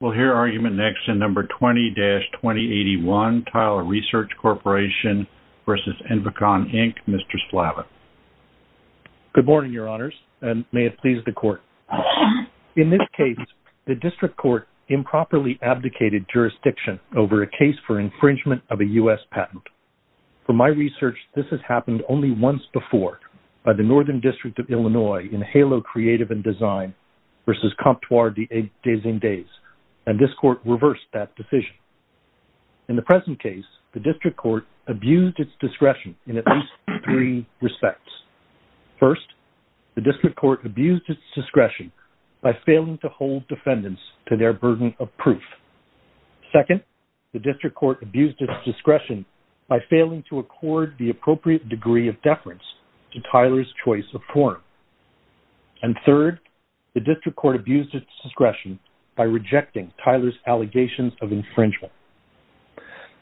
We'll hear argument next in No. 20-2081, Tyler Research Corporation v. Envacon, Inc., Mr. Slava. Good morning, Your Honors, and may it please the Court. In this case, the District Court improperly abdicated jurisdiction over a case for infringement of a U.S. patent. For my research, this has happened only once before, by the Northern District of Illinois in Halo Creative and Design v. Comptoir des Indes, and this Court reversed that decision. In the present case, the District Court abused its discretion in at least three respects. First, the District Court abused its discretion by failing to hold defendants to their burden of proof. Second, the District Court abused its discretion by failing to accord the appropriate degree of deference to Tyler's choice of forum. And third, the District Court abused its discretion by rejecting Tyler's allegations of infringement.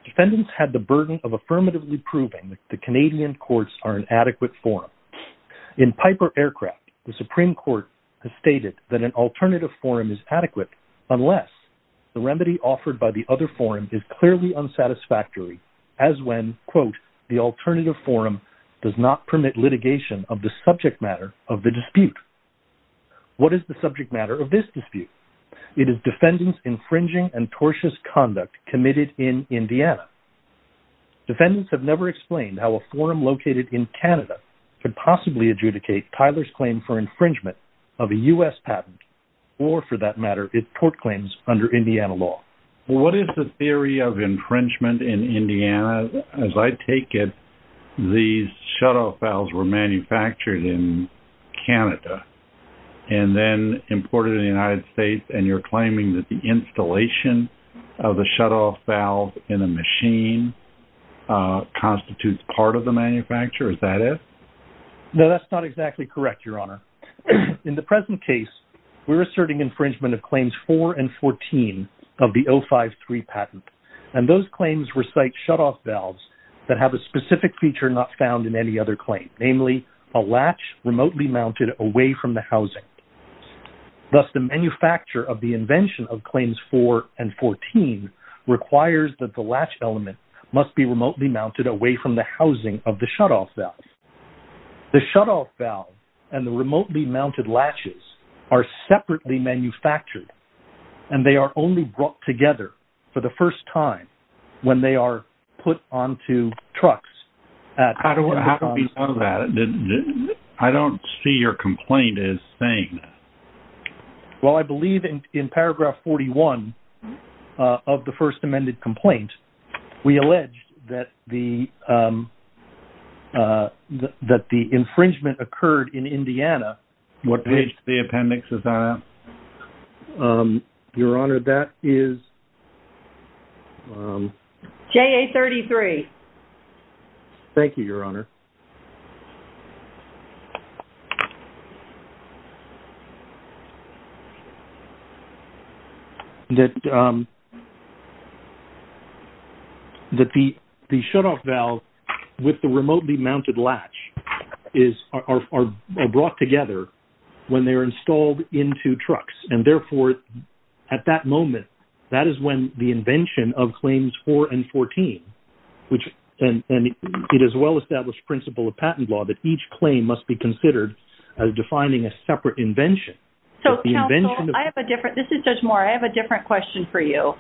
Defendants had the burden of affirmatively proving that Canadian courts are an adequate forum. In Piper Aircraft, the Supreme Court has stated that an alternative forum is adequate unless the remedy offered by the other forum is clearly unsatisfactory, as when, quote, the alternative forum does not permit litigation of the subject matter of the dispute. What is the subject matter of this dispute? It is defendants' infringing and tortious conduct committed in Indiana. Defendants have never explained how a forum located in Canada could possibly adjudicate Tyler's claim for infringement of a U.S. patent or, for that matter, its tort claims under Indiana law. What is the theory of infringement in Indiana? As I take it, these shutoff valves were manufactured in Canada and then imported in the United States, and you're claiming that the installation of the shutoff valve in a machine constitutes part of the manufacture? Is that it? No, that's not exactly correct, Your Honor. In the present case, we're asserting infringement of Claims 4 and 14 of the 053 patent, and those claims recite shutoff valves that have a specific feature not found in any other claim, namely a latch remotely mounted away from the housing. Thus, the manufacture of the invention of Claims 4 and 14 requires that the latch element must be remotely mounted away from the housing of the shutoff valve. The shutoff valve and the remotely mounted latches are separately manufactured, and they are only brought together for the first time when they are put onto trucks at the time of the… How do we know that? I don't see your complaint as saying that. Well, I believe in paragraph 41 of the First Amended Complaint, we allege that the infringement occurred in Indiana. What page of the appendix is that on? Your Honor, that is… JA-33. Thank you, Your Honor. …that the shutoff valve with the remotely mounted latch are brought together when they are installed into trucks, and therefore, at that moment, that is when the invention of Claims 4 and 14, and it is a well-established principle of patent law that each claim must be considered as defining a separate invention. So counsel, I have a different-this is Judge Moore, I have a different question for you.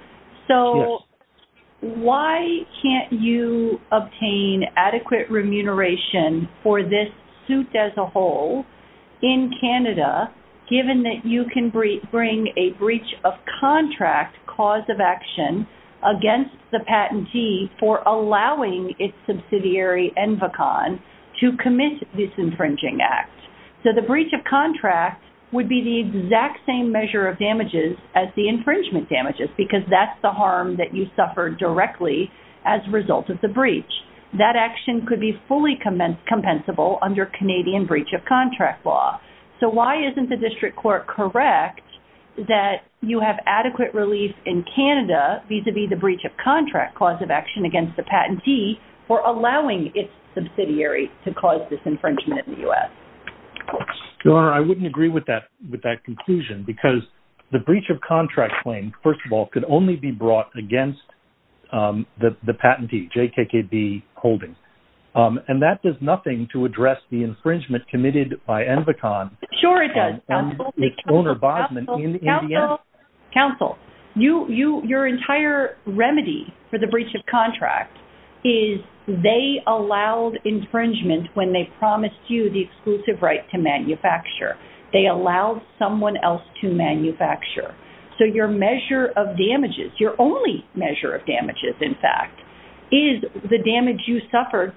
So why can't you obtain adequate remuneration for this suit as a whole in Canada, given that you can bring a breach of contract cause of action against the patentee for allowing its subsidiary, ENVACON, to commit this infringing act? So the breach of contract would be the exact same measure of damages as the infringement damages because that's the harm that you suffered directly as a result of the breach. That action could be fully compensable under Canadian breach of contract law. So why isn't the district court correct that you have adequate relief in Canada vis-à-vis the breach of contract cause of action against the patentee for allowing its subsidiary to cause this infringement in the U.S.? Your Honor, I wouldn't agree with that conclusion because the breach of contract claim, first of all, could only be brought against the patentee, JKKB Holdings, and that does nothing to address the infringement committed by ENVACON. Sure it does. Counsel, counsel, counsel, counsel, counsel, counsel, counsel. Your entire remedy for the breach of contract is they allowed infringement when they promised you the exclusive right to manufacture. They allowed someone else to manufacture. So your measure of damages, your only measure of damages, in fact, is the damage you suffered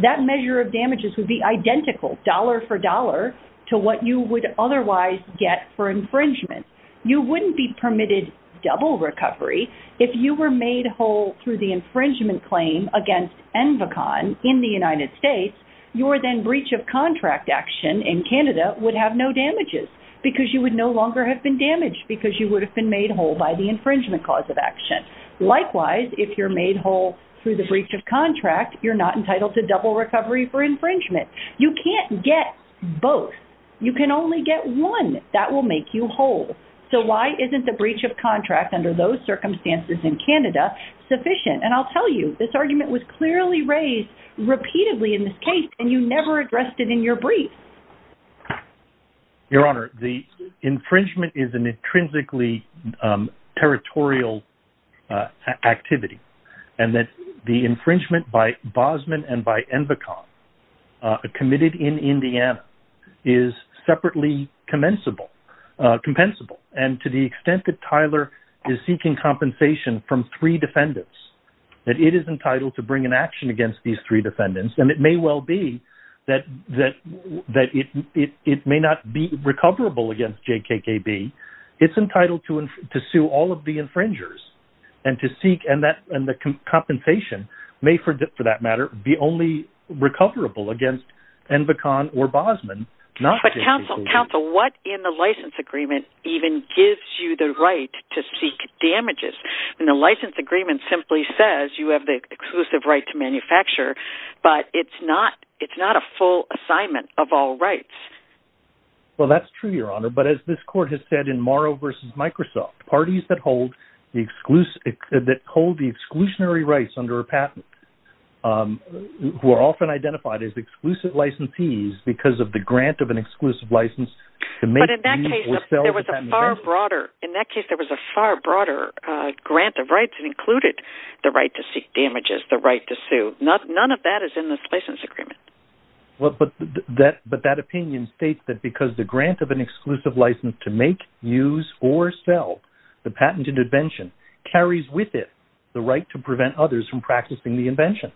That measure of damages would be identical, dollar for dollar, to what you would otherwise get for infringement. You wouldn't be permitted double recovery if you were made whole through the infringement claim against ENVACON in the United States. Your then breach of contract action in Canada would have no damages because you would no longer have been damaged because you would have been made whole by the infringement cause of action. Likewise, if you're made whole through the breach of contract, you're not entitled to double recovery for infringement. You can't get both. You can only get one. That will make you whole. So why isn't the breach of contract under those circumstances in Canada sufficient? And I'll tell you, this argument was clearly raised repeatedly in this case, and you never addressed it in your brief. Your Honor, the infringement is an intrinsically territorial activity, and that the infringement by Bosman and by ENVACON committed in Indiana is separately commensable, compensable. And to the extent that Tyler is seeking compensation from three defendants, that it is entitled to bring an action against these three defendants, and it may well be that it may not be recoverable against JKKB. It's entitled to sue all of the infringers and to seek, and the compensation may, for that matter, be only recoverable against ENVACON or Bosman, not JKKB. But counsel, what in the license agreement even gives you the right to seek damages? And the license agreement simply says you have the exclusive right to manufacture, but it's not a full assignment of all rights. Well, that's true, Your Honor, but as this court has said in Morrow v. Microsoft, parties that hold the exclusionary rights under a patent, who are often identified as exclusive licensees because of the grant of an exclusive license, to make the lease or sell the patent a grant of rights that included the right to seek damages, the right to sue, none of that is in this license agreement. But that opinion states that because the grant of an exclusive license to make, use, or sell the patent intervention carries with it the right to prevent others from practicing the invention.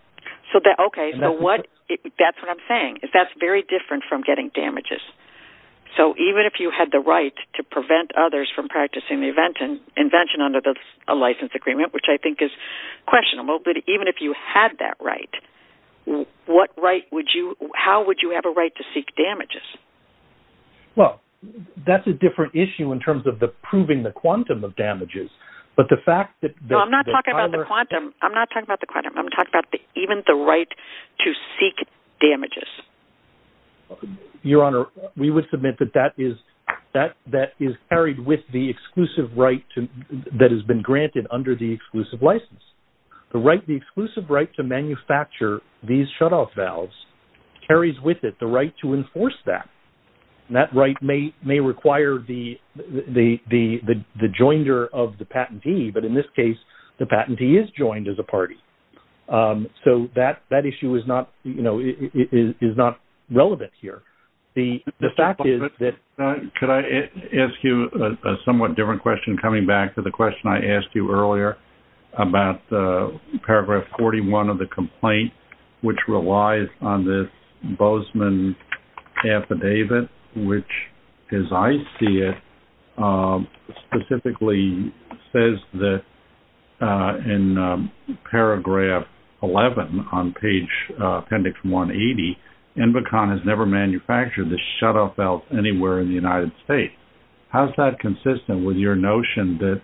Okay, so that's what I'm saying, that's very different from getting damages. So even if you had the right to prevent others from practicing the invention under a license agreement, which I think is questionable, but even if you had that right, how would you have a right to seek damages? Well, that's a different issue in terms of the proving the quantum of damages, but the fact that the... No, I'm not talking about the quantum. I'm not talking about the quantum. I'm talking about even the right to seek damages. Your Honor, we would submit that that is carried with the exclusive right that has been granted under the exclusive license. The exclusive right to manufacture these shutoff valves carries with it the right to enforce that, and that right may require the joiner of the patentee, but in this case, the patentee is joined as a party. So that issue is not relevant here. The fact is that... Could I ask you a somewhat different question coming back to the question I asked you earlier about paragraph 41 of the complaint, which relies on this Bozeman affidavit, which as I see it, specifically says that in paragraph 11 on page appendix 180, Invocon has never manufactured the shutoff valves anywhere in the United States. How's that consistent with your notion that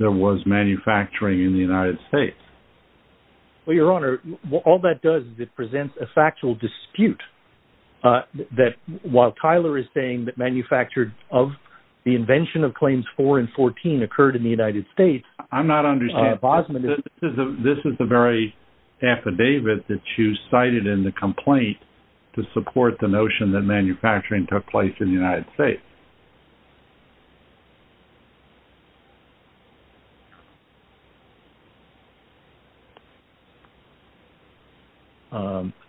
there was manufacturing in the United States? Well, Your Honor, all that does is it presents a factual dispute that while Tyler is saying that manufactured of the invention of claims four and 14 occurred in the United States... I'm not understanding. This is the very affidavit that you cited in the complaint to support the notion that manufacturing took place in the United States.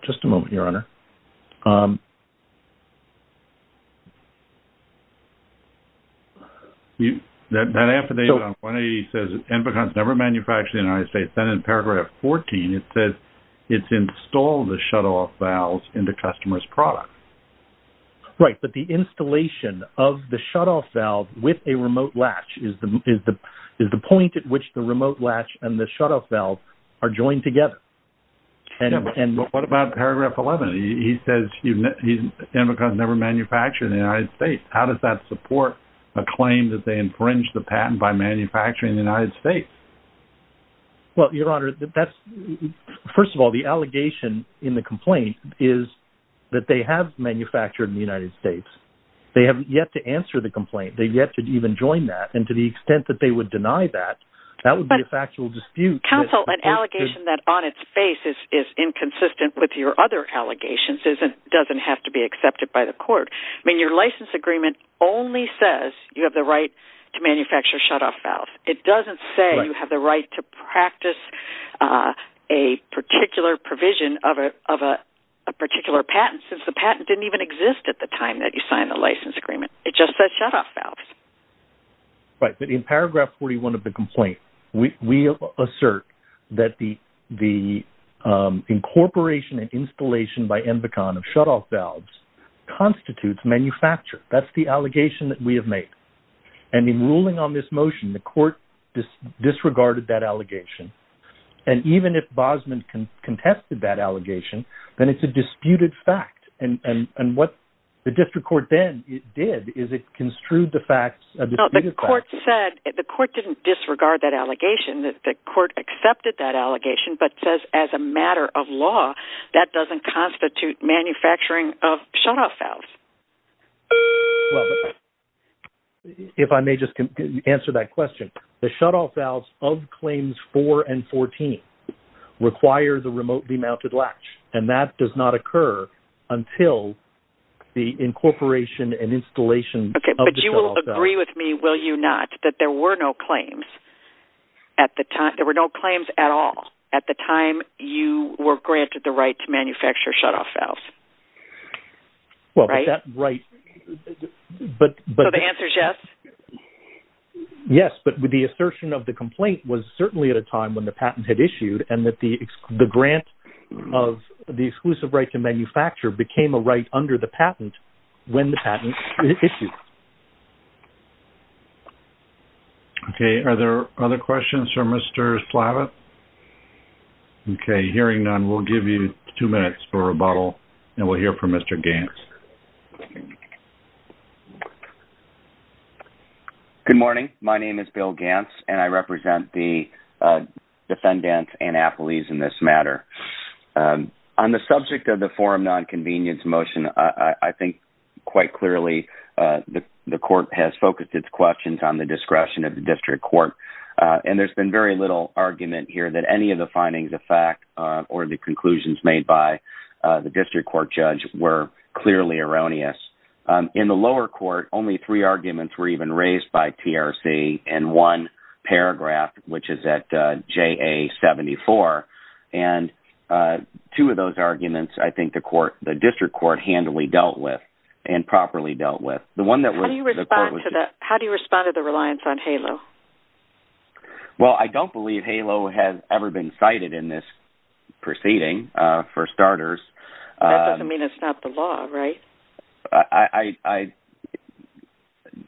Just a moment, Your Honor. That affidavit on 180 says Invocon's never manufactured in the United States, then in paragraph 14, it says it's installed the shutoff valves into customers' products. Right, but the installation of the shutoff valve with a remote latch is the point at which the remote latch and the shutoff valve are joined together. What about paragraph 11? He says Invocon's never manufactured in the United States. How does that support a claim that they infringed the patent by manufacturing in the United States? Well, Your Honor, first of all, the allegation in the complaint is that they have manufactured in the United States. They haven't yet to answer the complaint. They've yet to even join that, and to the extent that they would deny that, that would be a factual dispute. Counsel, an allegation that on its face is inconsistent with your other allegations doesn't have to be accepted by the court. I mean, your license agreement only says you have the right to manufacture shutoff valves. It doesn't say you have the right to practice a particular provision of a particular patent since the patent didn't even exist at the time that you signed the license agreement. It just says shutoff valves. Right, but in paragraph 41 of the complaint, we assert that the incorporation and installation by Invocon of shutoff valves constitutes manufacture. That's the allegation that we have made. And in ruling on this motion, the court disregarded that allegation. And even if Bosman contested that allegation, then it's a disputed fact. And what the district court then did is it construed the facts of the court said the court didn't disregard that allegation, that the court accepted that allegation, but says as a matter of law, that doesn't constitute manufacturing of shutoff valves. If I may just answer that question, the shutoff valves of claims four and 14 require the remotely mounted latch. And that does not occur until the incorporation and installation of the shutoff valve. Okay, but you will agree with me, will you not, that there were no claims at the time, there were no claims at all at the time you were granted the right to manufacture shutoff valves. Right? Right. So the answer is yes? Yes. But with the assertion of the complaint was certainly at a time when the patent had issued and that the grant of the exclusive right to manufacture became a right under the patent when the patent was issued. Okay. Are there other questions for Mr. Slavitt? Okay. Hearing none, we'll give you two minutes for rebuttal and we'll hear from Mr. Gaines. Good morning. My name is Bill Gaines and I represent the defendants and appellees in this matter. On the subject of the forum nonconvenience motion, I think quite clearly the court has focused its questions on the discretion of the district court. And there's been very little argument here that any of the findings of fact or the conclusions made by the district court judge were clearly erroneous. In the lower court, only three arguments were even raised by TRC and one paragraph, which is at JA-74. And two of those arguments, I think the district court handily dealt with and properly dealt with. How do you respond to the reliance on HALO? Well, I don't believe HALO has ever been cited in this proceeding, for starters. That doesn't mean it's not the law, right?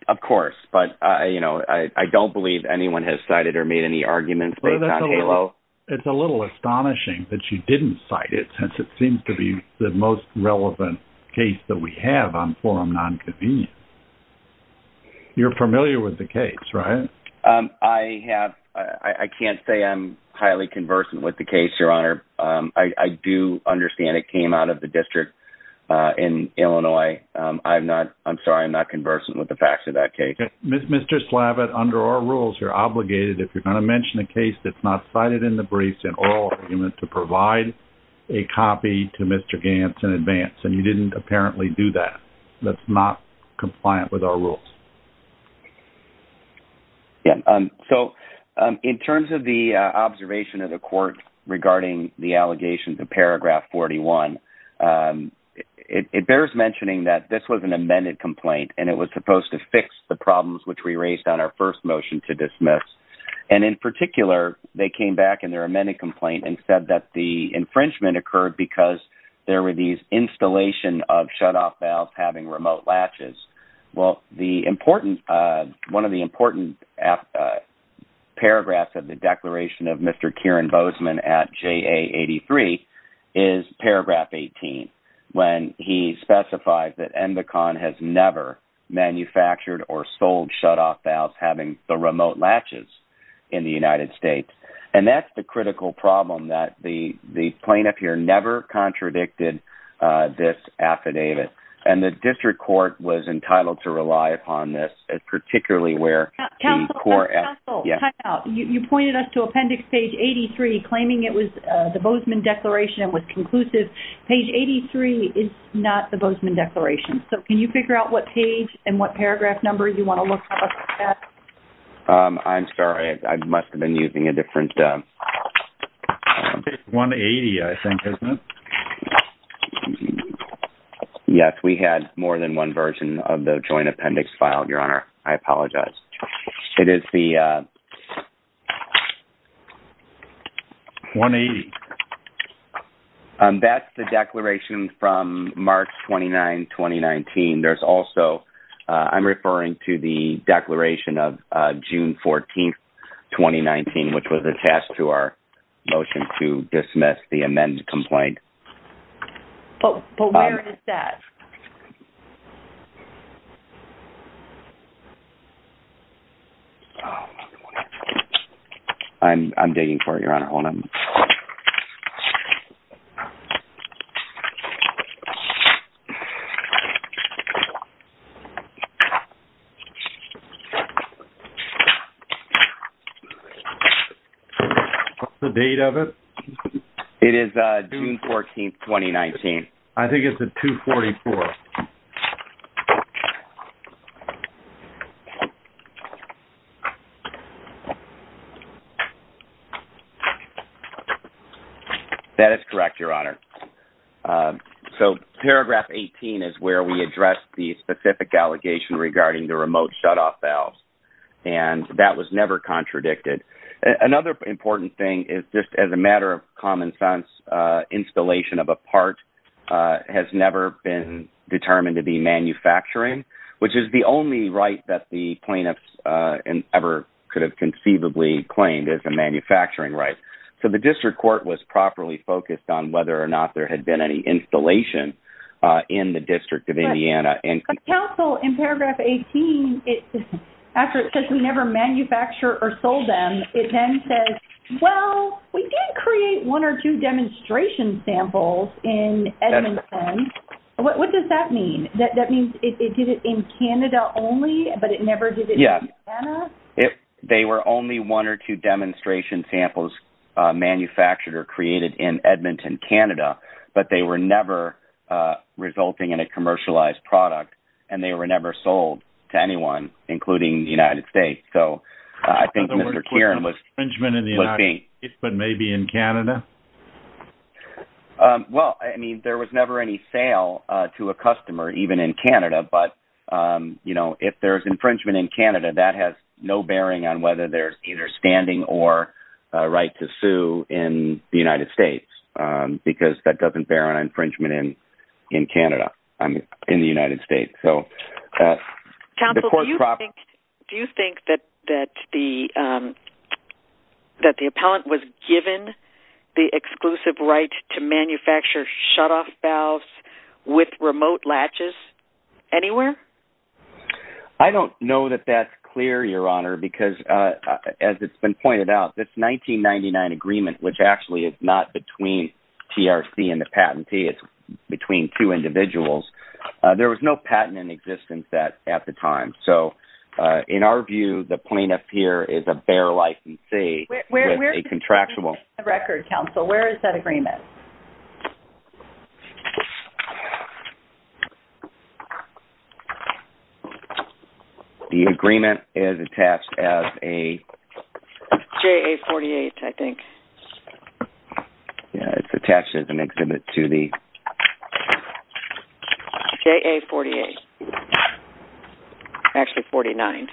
Of course. But, you know, I don't believe anyone has cited or made any arguments based on HALO. It's a little astonishing that you didn't cite it since it seems to be the most relevant case that we have on forum nonconvenience. You're familiar with the case, right? I have. I can't say I'm highly conversant with the case, Your Honor. I do understand it came out of the district in Illinois. I'm sorry, I'm not conversant with the facts of that case. Mr. Slavitt, under our rules, you're obligated, if you're going to mention a case that's not cited in the briefs, in oral argument, to provide a copy to Mr. Gantz in advance. And you didn't apparently do that. That's not compliant with our rules. Yeah, so in terms of the observation of the court regarding the allegations of paragraph 41, it bears mentioning that this was an amended complaint and it was supposed to fix the problems which we raised on our first motion to dismiss. And in particular, they came back in their amended complaint and said that the infringement occurred because there were these installation of shutoff valves having remote latches. Well, one of the important paragraphs of the declaration of Mr. Kieran Bozeman at JA83 is paragraph 18, when he specifies that MBACON has never manufactured or sold shutoff valves having the remote latches in the United States. And that's the critical problem, that the plaintiff here never contradicted this affidavit. And the district court was entitled to rely upon this, particularly where the court... Counsel, you pointed us to appendix page 83, claiming it was the Bozeman declaration and was conclusive. Page 83 is not the Bozeman declaration. So can you figure out what page and what paragraph number you want to look at? I'm sorry, I must have been using a different... It's 180, I think, isn't it? Yes, we had more than one version of the joint appendix filed, Your Honor. I apologize. It is the... 180. That's the declaration from March 29, 2019. There's also... I'm referring to the declaration of June 14, 2019, which was attached to our motion to dismiss the amended complaint. But where is that? I'm digging for it, Your Honor. What's the date of it? It is June 14, 2019. I think it's the 244th. That is correct, Your Honor. So paragraph 18 is where we address this. The specific allegation regarding the remote shutoff valves, and that was never contradicted. Another important thing is just as a matter of common sense, installation of a part has never been determined to be manufacturing, which is the only right that the plaintiffs ever could have conceivably claimed as a manufacturing right. So the district court was properly focused on whether or not there had been any installation in the District of Indiana. But counsel, in paragraph 18, after it says, we never manufacture or sold them, it then says, well, we did create one or two demonstration samples in Edmonton. What does that mean? That means it did it in Canada only, but it never did it in Indiana? Yeah. They were only one or two demonstration samples manufactured or created in Edmonton, Canada, but they were never resulting in a commercialized product, and they were never sold to anyone, including the United States. So I think Mr. Kieran was thinking. But maybe in Canada? Well, I mean, there was never any sale to a customer, even in Canada. But, you know, if there's infringement in Canada, that has no bearing on whether there's either standing or a right to sue in the United States, because that doesn't bear on infringement in Canada, in the United States. Counsel, do you think that the appellant was given the exclusive right to manufacture shutoff valves with remote latches anywhere? As it's been pointed out, this 1999 agreement, which actually is not between TRC and the patentee, it's between two individuals, there was no patent in existence at the time. So in our view, the plaintiff here is a bare licensee with a contractual. Where is that agreement? Where is that? The agreement is attached as a? JA-48, I think. Yeah, it's attached as an exhibit to the? JA-48. Actually, 49.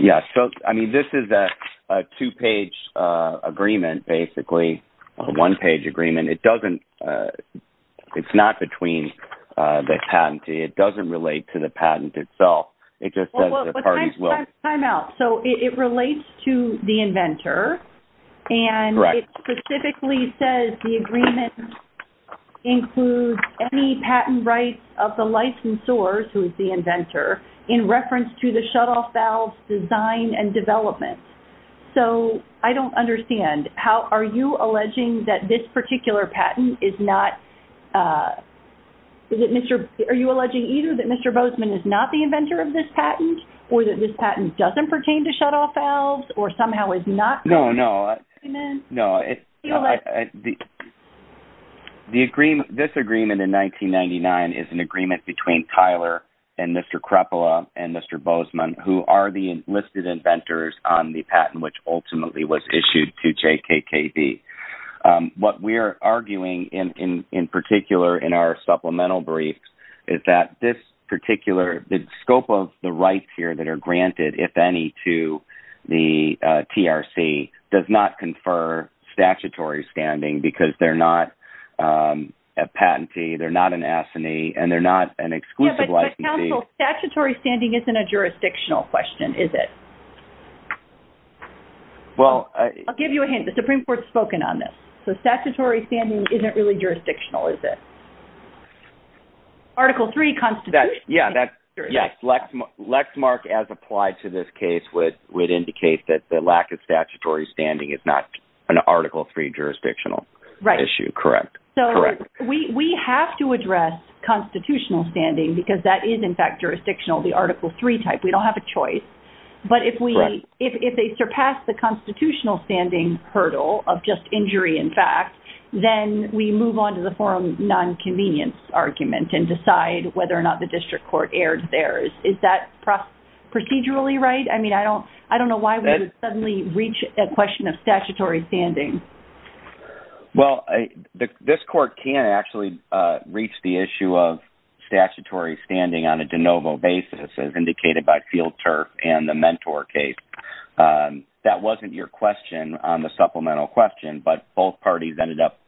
Yeah, so, I mean, this is a two-page agreement, basically, a one-page agreement. It doesn't – it's not between the patentee. It doesn't relate to the patent itself. It just says that the parties will? Time out. So it relates to the inventor. Correct. And it specifically says the agreement includes any patent rights of the licensors, who is the inventor, in reference to the shutoff valve's design and development. So I don't understand. Are you alleging that this particular patent is not? Are you alleging either that Mr. Bozeman is not the inventor of this patent or that this patent doesn't pertain to shutoff valves or somehow is not? No, no. You know what? No. This agreement in 1999 is an agreement between Tyler and Mr. Krepela and Mr. Bozeman, who are the enlisted inventors on the patent, which ultimately was issued to JKKB. What we're arguing, in particular, in our supplemental briefs, is that this particular – the scope of the rights here that are granted, if any, to the TRC does not confer statutory standing because they're not a patentee, they're not an assinee, and they're not an exclusive licensee. But, counsel, statutory standing isn't a jurisdictional question, is it? I'll give you a hint. The Supreme Court has spoken on this. So statutory standing isn't really jurisdictional, is it? Article III constitutionally. Yes. Lexmark, as applied to this case, would indicate that the lack of statutory standing is not an Article III jurisdictional issue. Correct. Correct. So we have to address constitutional standing because that is, in fact, jurisdictional, the Article III type. We don't have a choice. But if they surpass the constitutional standing hurdle of just injury in fact, then we move on to the forum nonconvenience argument and decide whether or not the district court erred there. Is that procedurally right? I mean, I don't know why we would suddenly reach a question of statutory standing. Well, this court can actually reach the issue of statutory standing on a de novo basis, as indicated by Field Turk and the Mentor case. That wasn't your question on the supplemental question, but both parties ended up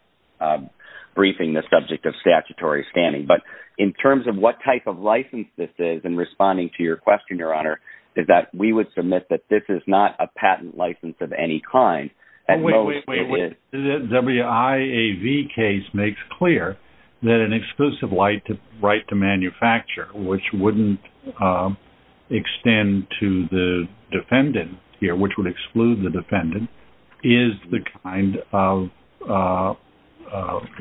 briefing the subject of statutory standing. But in terms of what type of license this is in responding to your question, Your Honor, is that we would submit that this is not a patent license of any kind. Wait, wait, wait. The WIAV case makes clear that an exclusive right to manufacture, which wouldn't extend to the defendant here, which would exclude the defendant, is the kind of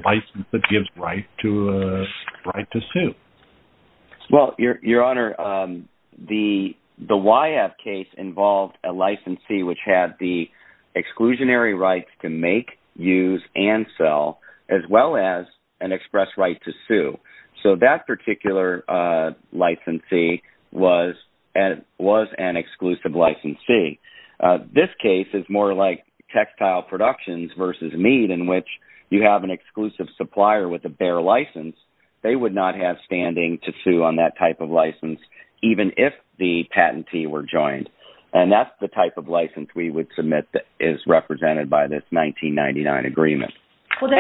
license that gives right to sue. Well, Your Honor, the WIAV case involved a licensee which had the exclusionary rights to make, use, and sell, as well as an express right to sue. So that particular licensee was an exclusive licensee. This case is more like textile productions versus Meade in which you have an exclusive supplier with a bare license. They would not have standing to sue on that type of license, even if the patentee were joined. And that's the type of license we would submit that is represented by this 1999 agreement. Okay,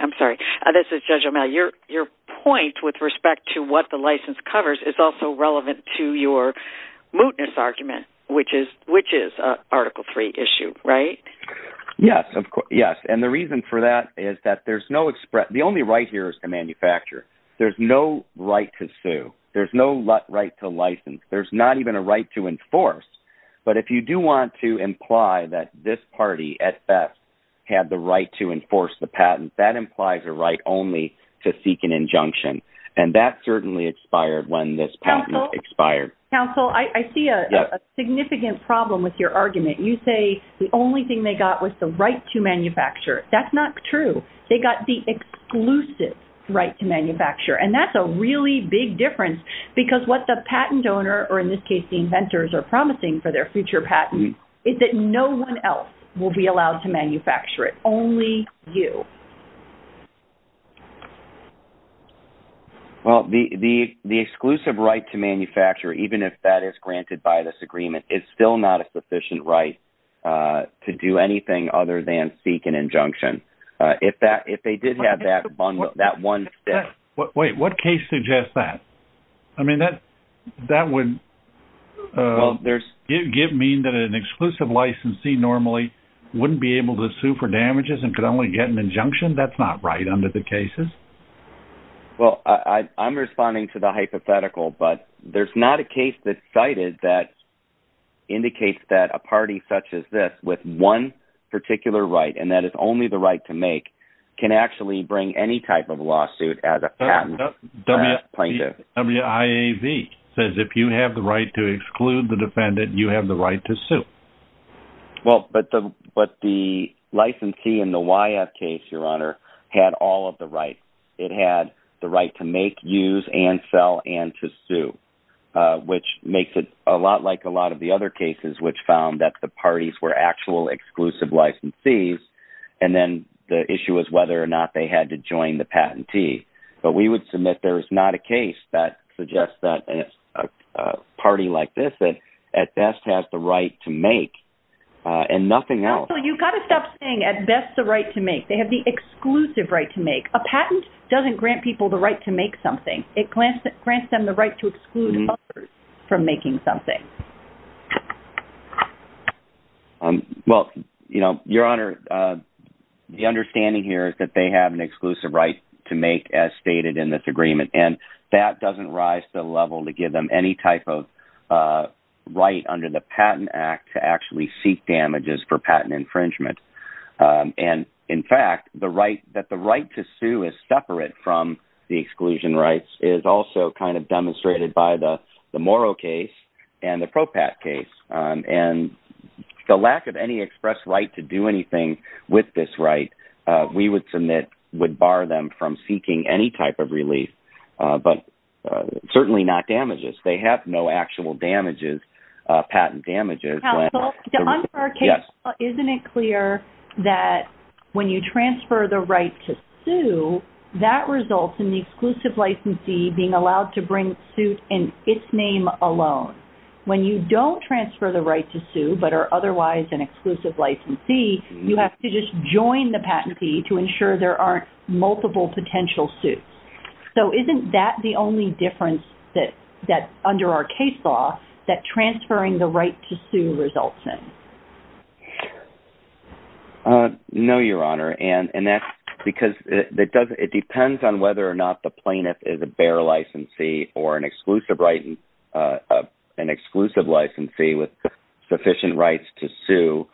I'm sorry. This is Judge O'Malley. Your point with respect to what the license covers is also relevant to your mootness argument, which is an Article III issue, right? Yes, and the reason for that is that the only right here is to manufacture. There's no right to sue. There's no right to license. There's not even a right to enforce. But if you do want to imply that this party at best had the right to enforce the patent, that implies a right only to seek an injunction. And that certainly expired when this patent expired. Counsel, I see a significant problem with your argument. You say the only thing they got was the right to manufacture. That's not true. They got the exclusive right to manufacture, and that's a really big difference because what the patent owner, or in this case the inventors, are promising for their future patent is that no one else will be allowed to manufacture it, only you. Well, the exclusive right to manufacture, even if that is granted by this agreement, is still not a sufficient right to do anything other than seek an injunction. If they did have that one step. Wait, what case suggests that? I mean, that would mean that an exclusive licensee normally wouldn't be able to sue for damages and could only get an injunction? That's not right under the cases. Well, I'm responding to the hypothetical, but there's not a case that's cited that indicates that a party such as this with one particular right, and that is only the right to make, can actually bring any type of lawsuit as a patent plaintiff. WIAV says if you have the right to exclude the defendant, you have the right to sue. Well, but the licensee in the WIAV case, Your Honor, had all of the rights. It had the right to make, use, and sell, and to sue, which makes it a lot like a lot of the other cases, which found that the parties were actual exclusive licensees, and then the issue was whether or not they had to join the patentee. But we would submit there is not a case that suggests that a party like this at best has the right to make, and nothing else. You've got to stop saying at best the right to make. They have the exclusive right to make. A patent doesn't grant people the right to make something. It grants them the right to exclude others from making something. Well, Your Honor, the understanding here is that they have an exclusive right to make, as stated in this agreement, and that doesn't rise to the level to give them any type of right under the Patent Act to actually seek damages for patent infringement. And, in fact, that the right to sue is separate from the exclusion rights is also kind of demonstrated by the Morrow case and the Propat case. And the lack of any express right to do anything with this right, we would submit would bar them from seeking any type of relief, but certainly not damages. They have no actual damages, patent damages. Counsel, under our case law, isn't it clear that when you transfer the right to sue, that results in the exclusive licensee being allowed to bring suit in its name alone? When you don't transfer the right to sue but are otherwise an exclusive licensee, you have to just join the patentee to ensure there aren't multiple potential suits. So isn't that the only difference that, under our case law, that transferring the right to sue results in? No, Your Honor. And that's because it depends on whether or not the plaintiff is a bare licensee or an exclusive licensee with sufficient rights to sue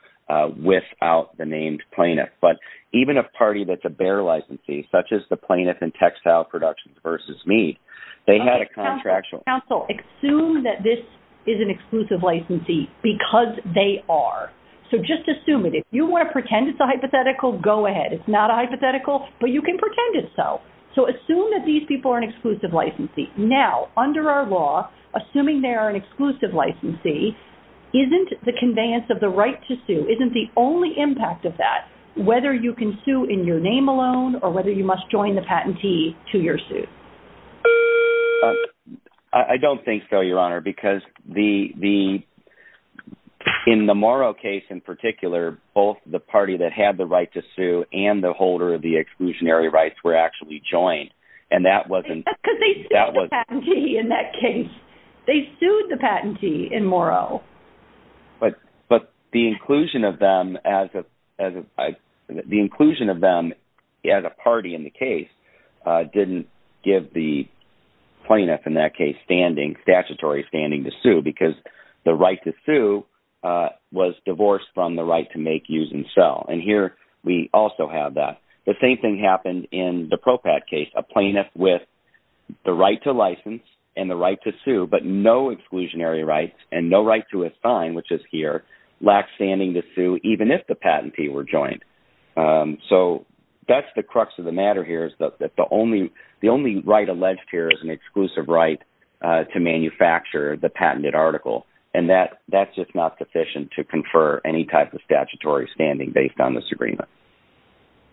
without the named plaintiff. But even a party that's a bare licensee, such as the Plaintiff and Textile Productions v. Me, they had a contractual. Counsel, assume that this is an exclusive licensee because they are. So just assume it. If you want to pretend it's a hypothetical, go ahead. It's not a hypothetical, but you can pretend it's so. So assume that these people are an exclusive licensee. Now, under our law, assuming they are an exclusive licensee, isn't the conveyance of the right to sue, isn't the only impact of that, whether you can sue in your name alone or whether you must join the patentee to your suit? I don't think so, Your Honor, because in the Morrow case in particular, both the party that had the right to sue and the holder of the exclusionary rights were actually joined. Because they sued the patentee in that case. They sued the patentee in Morrow. But the inclusion of them as a party in the case didn't give the plaintiff, in that case, statutory standing to sue because the right to sue was divorced from the right to make, use, and sell. And here we also have that. The same thing happened in the Propat case. A plaintiff with the right to license and the right to sue but no exclusionary rights and no right to assign, which is here, lacks standing to sue even if the patentee were joined. So that's the crux of the matter here is that the only right alleged here is an exclusive right to manufacture the patented article. And that's just not sufficient to confer any type of statutory standing based on this agreement.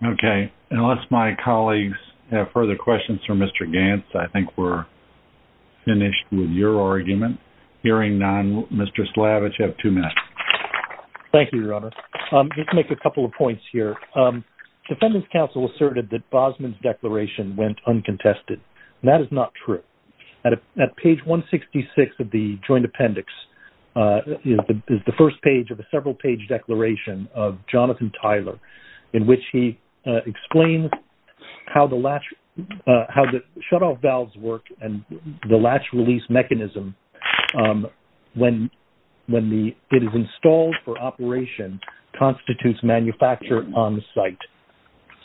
Okay. Unless my colleagues have further questions for Mr. Gantz, I think we're finished with your argument. Hearing none, Mr. Slavich, you have two minutes. Thank you, Your Honor. Let's make a couple of points here. Defendant's counsel asserted that Bosman's declaration went uncontested. That is not true. At page 166 of the joint appendix is the first page of a several-page declaration of Jonathan Tyler in which he explains how the latch, how the shutoff valves work and the latch release mechanism when it is installed for operation constitutes manufacture on the site.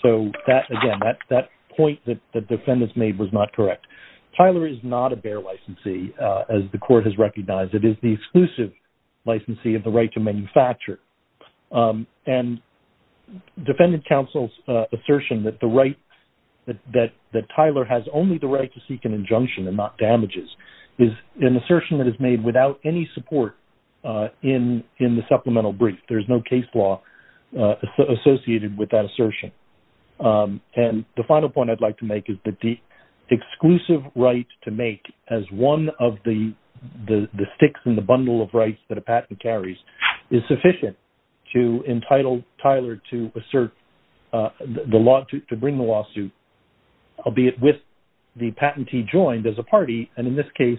So that, again, that point that the defendant's made was not correct. Tyler is not a bare licensee as the court has recognized. It is the exclusive licensee of the right to manufacture. And defendant counsel's assertion that the right, that Tyler has only the right to seek an injunction and not damages is an assertion that is made without any support in the supplemental brief. There is no case law associated with that assertion. And the final point I'd like to make is that the exclusive right to make as one of the sticks in the bundle of rights that a patent carries is sufficient to entitle Tyler to assert the law, to bring the lawsuit, albeit with the patentee joined as a party. And in this case,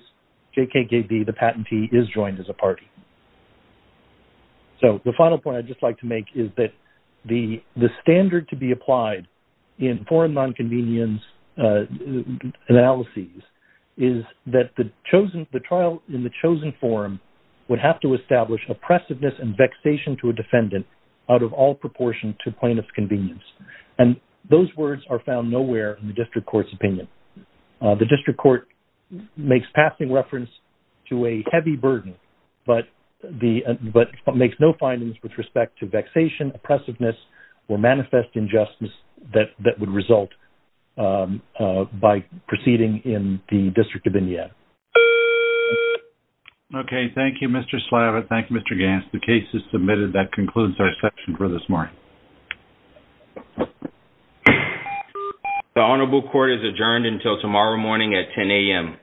JKKB, the patentee is joined as a party. So the final point I'd just like to make is that the standard to be applied in foreign nonconvenience analyses is that the chosen, the trial in the chosen forum would have to establish oppressiveness and vexation to a defendant out of all proportion to plaintiff's convenience. And those words are found nowhere in the district court's opinion. The district court makes passing reference to a heavy burden, but makes no findings with respect to vexation, oppressiveness, or manifest injustice that would result by proceeding in the District of Indiana. Okay. Thank you, Mr. Slava. Thank you, Mr. Gants. The case is submitted. That concludes our session for this morning. The Honorable Court is adjourned until tomorrow morning at 10 a.m.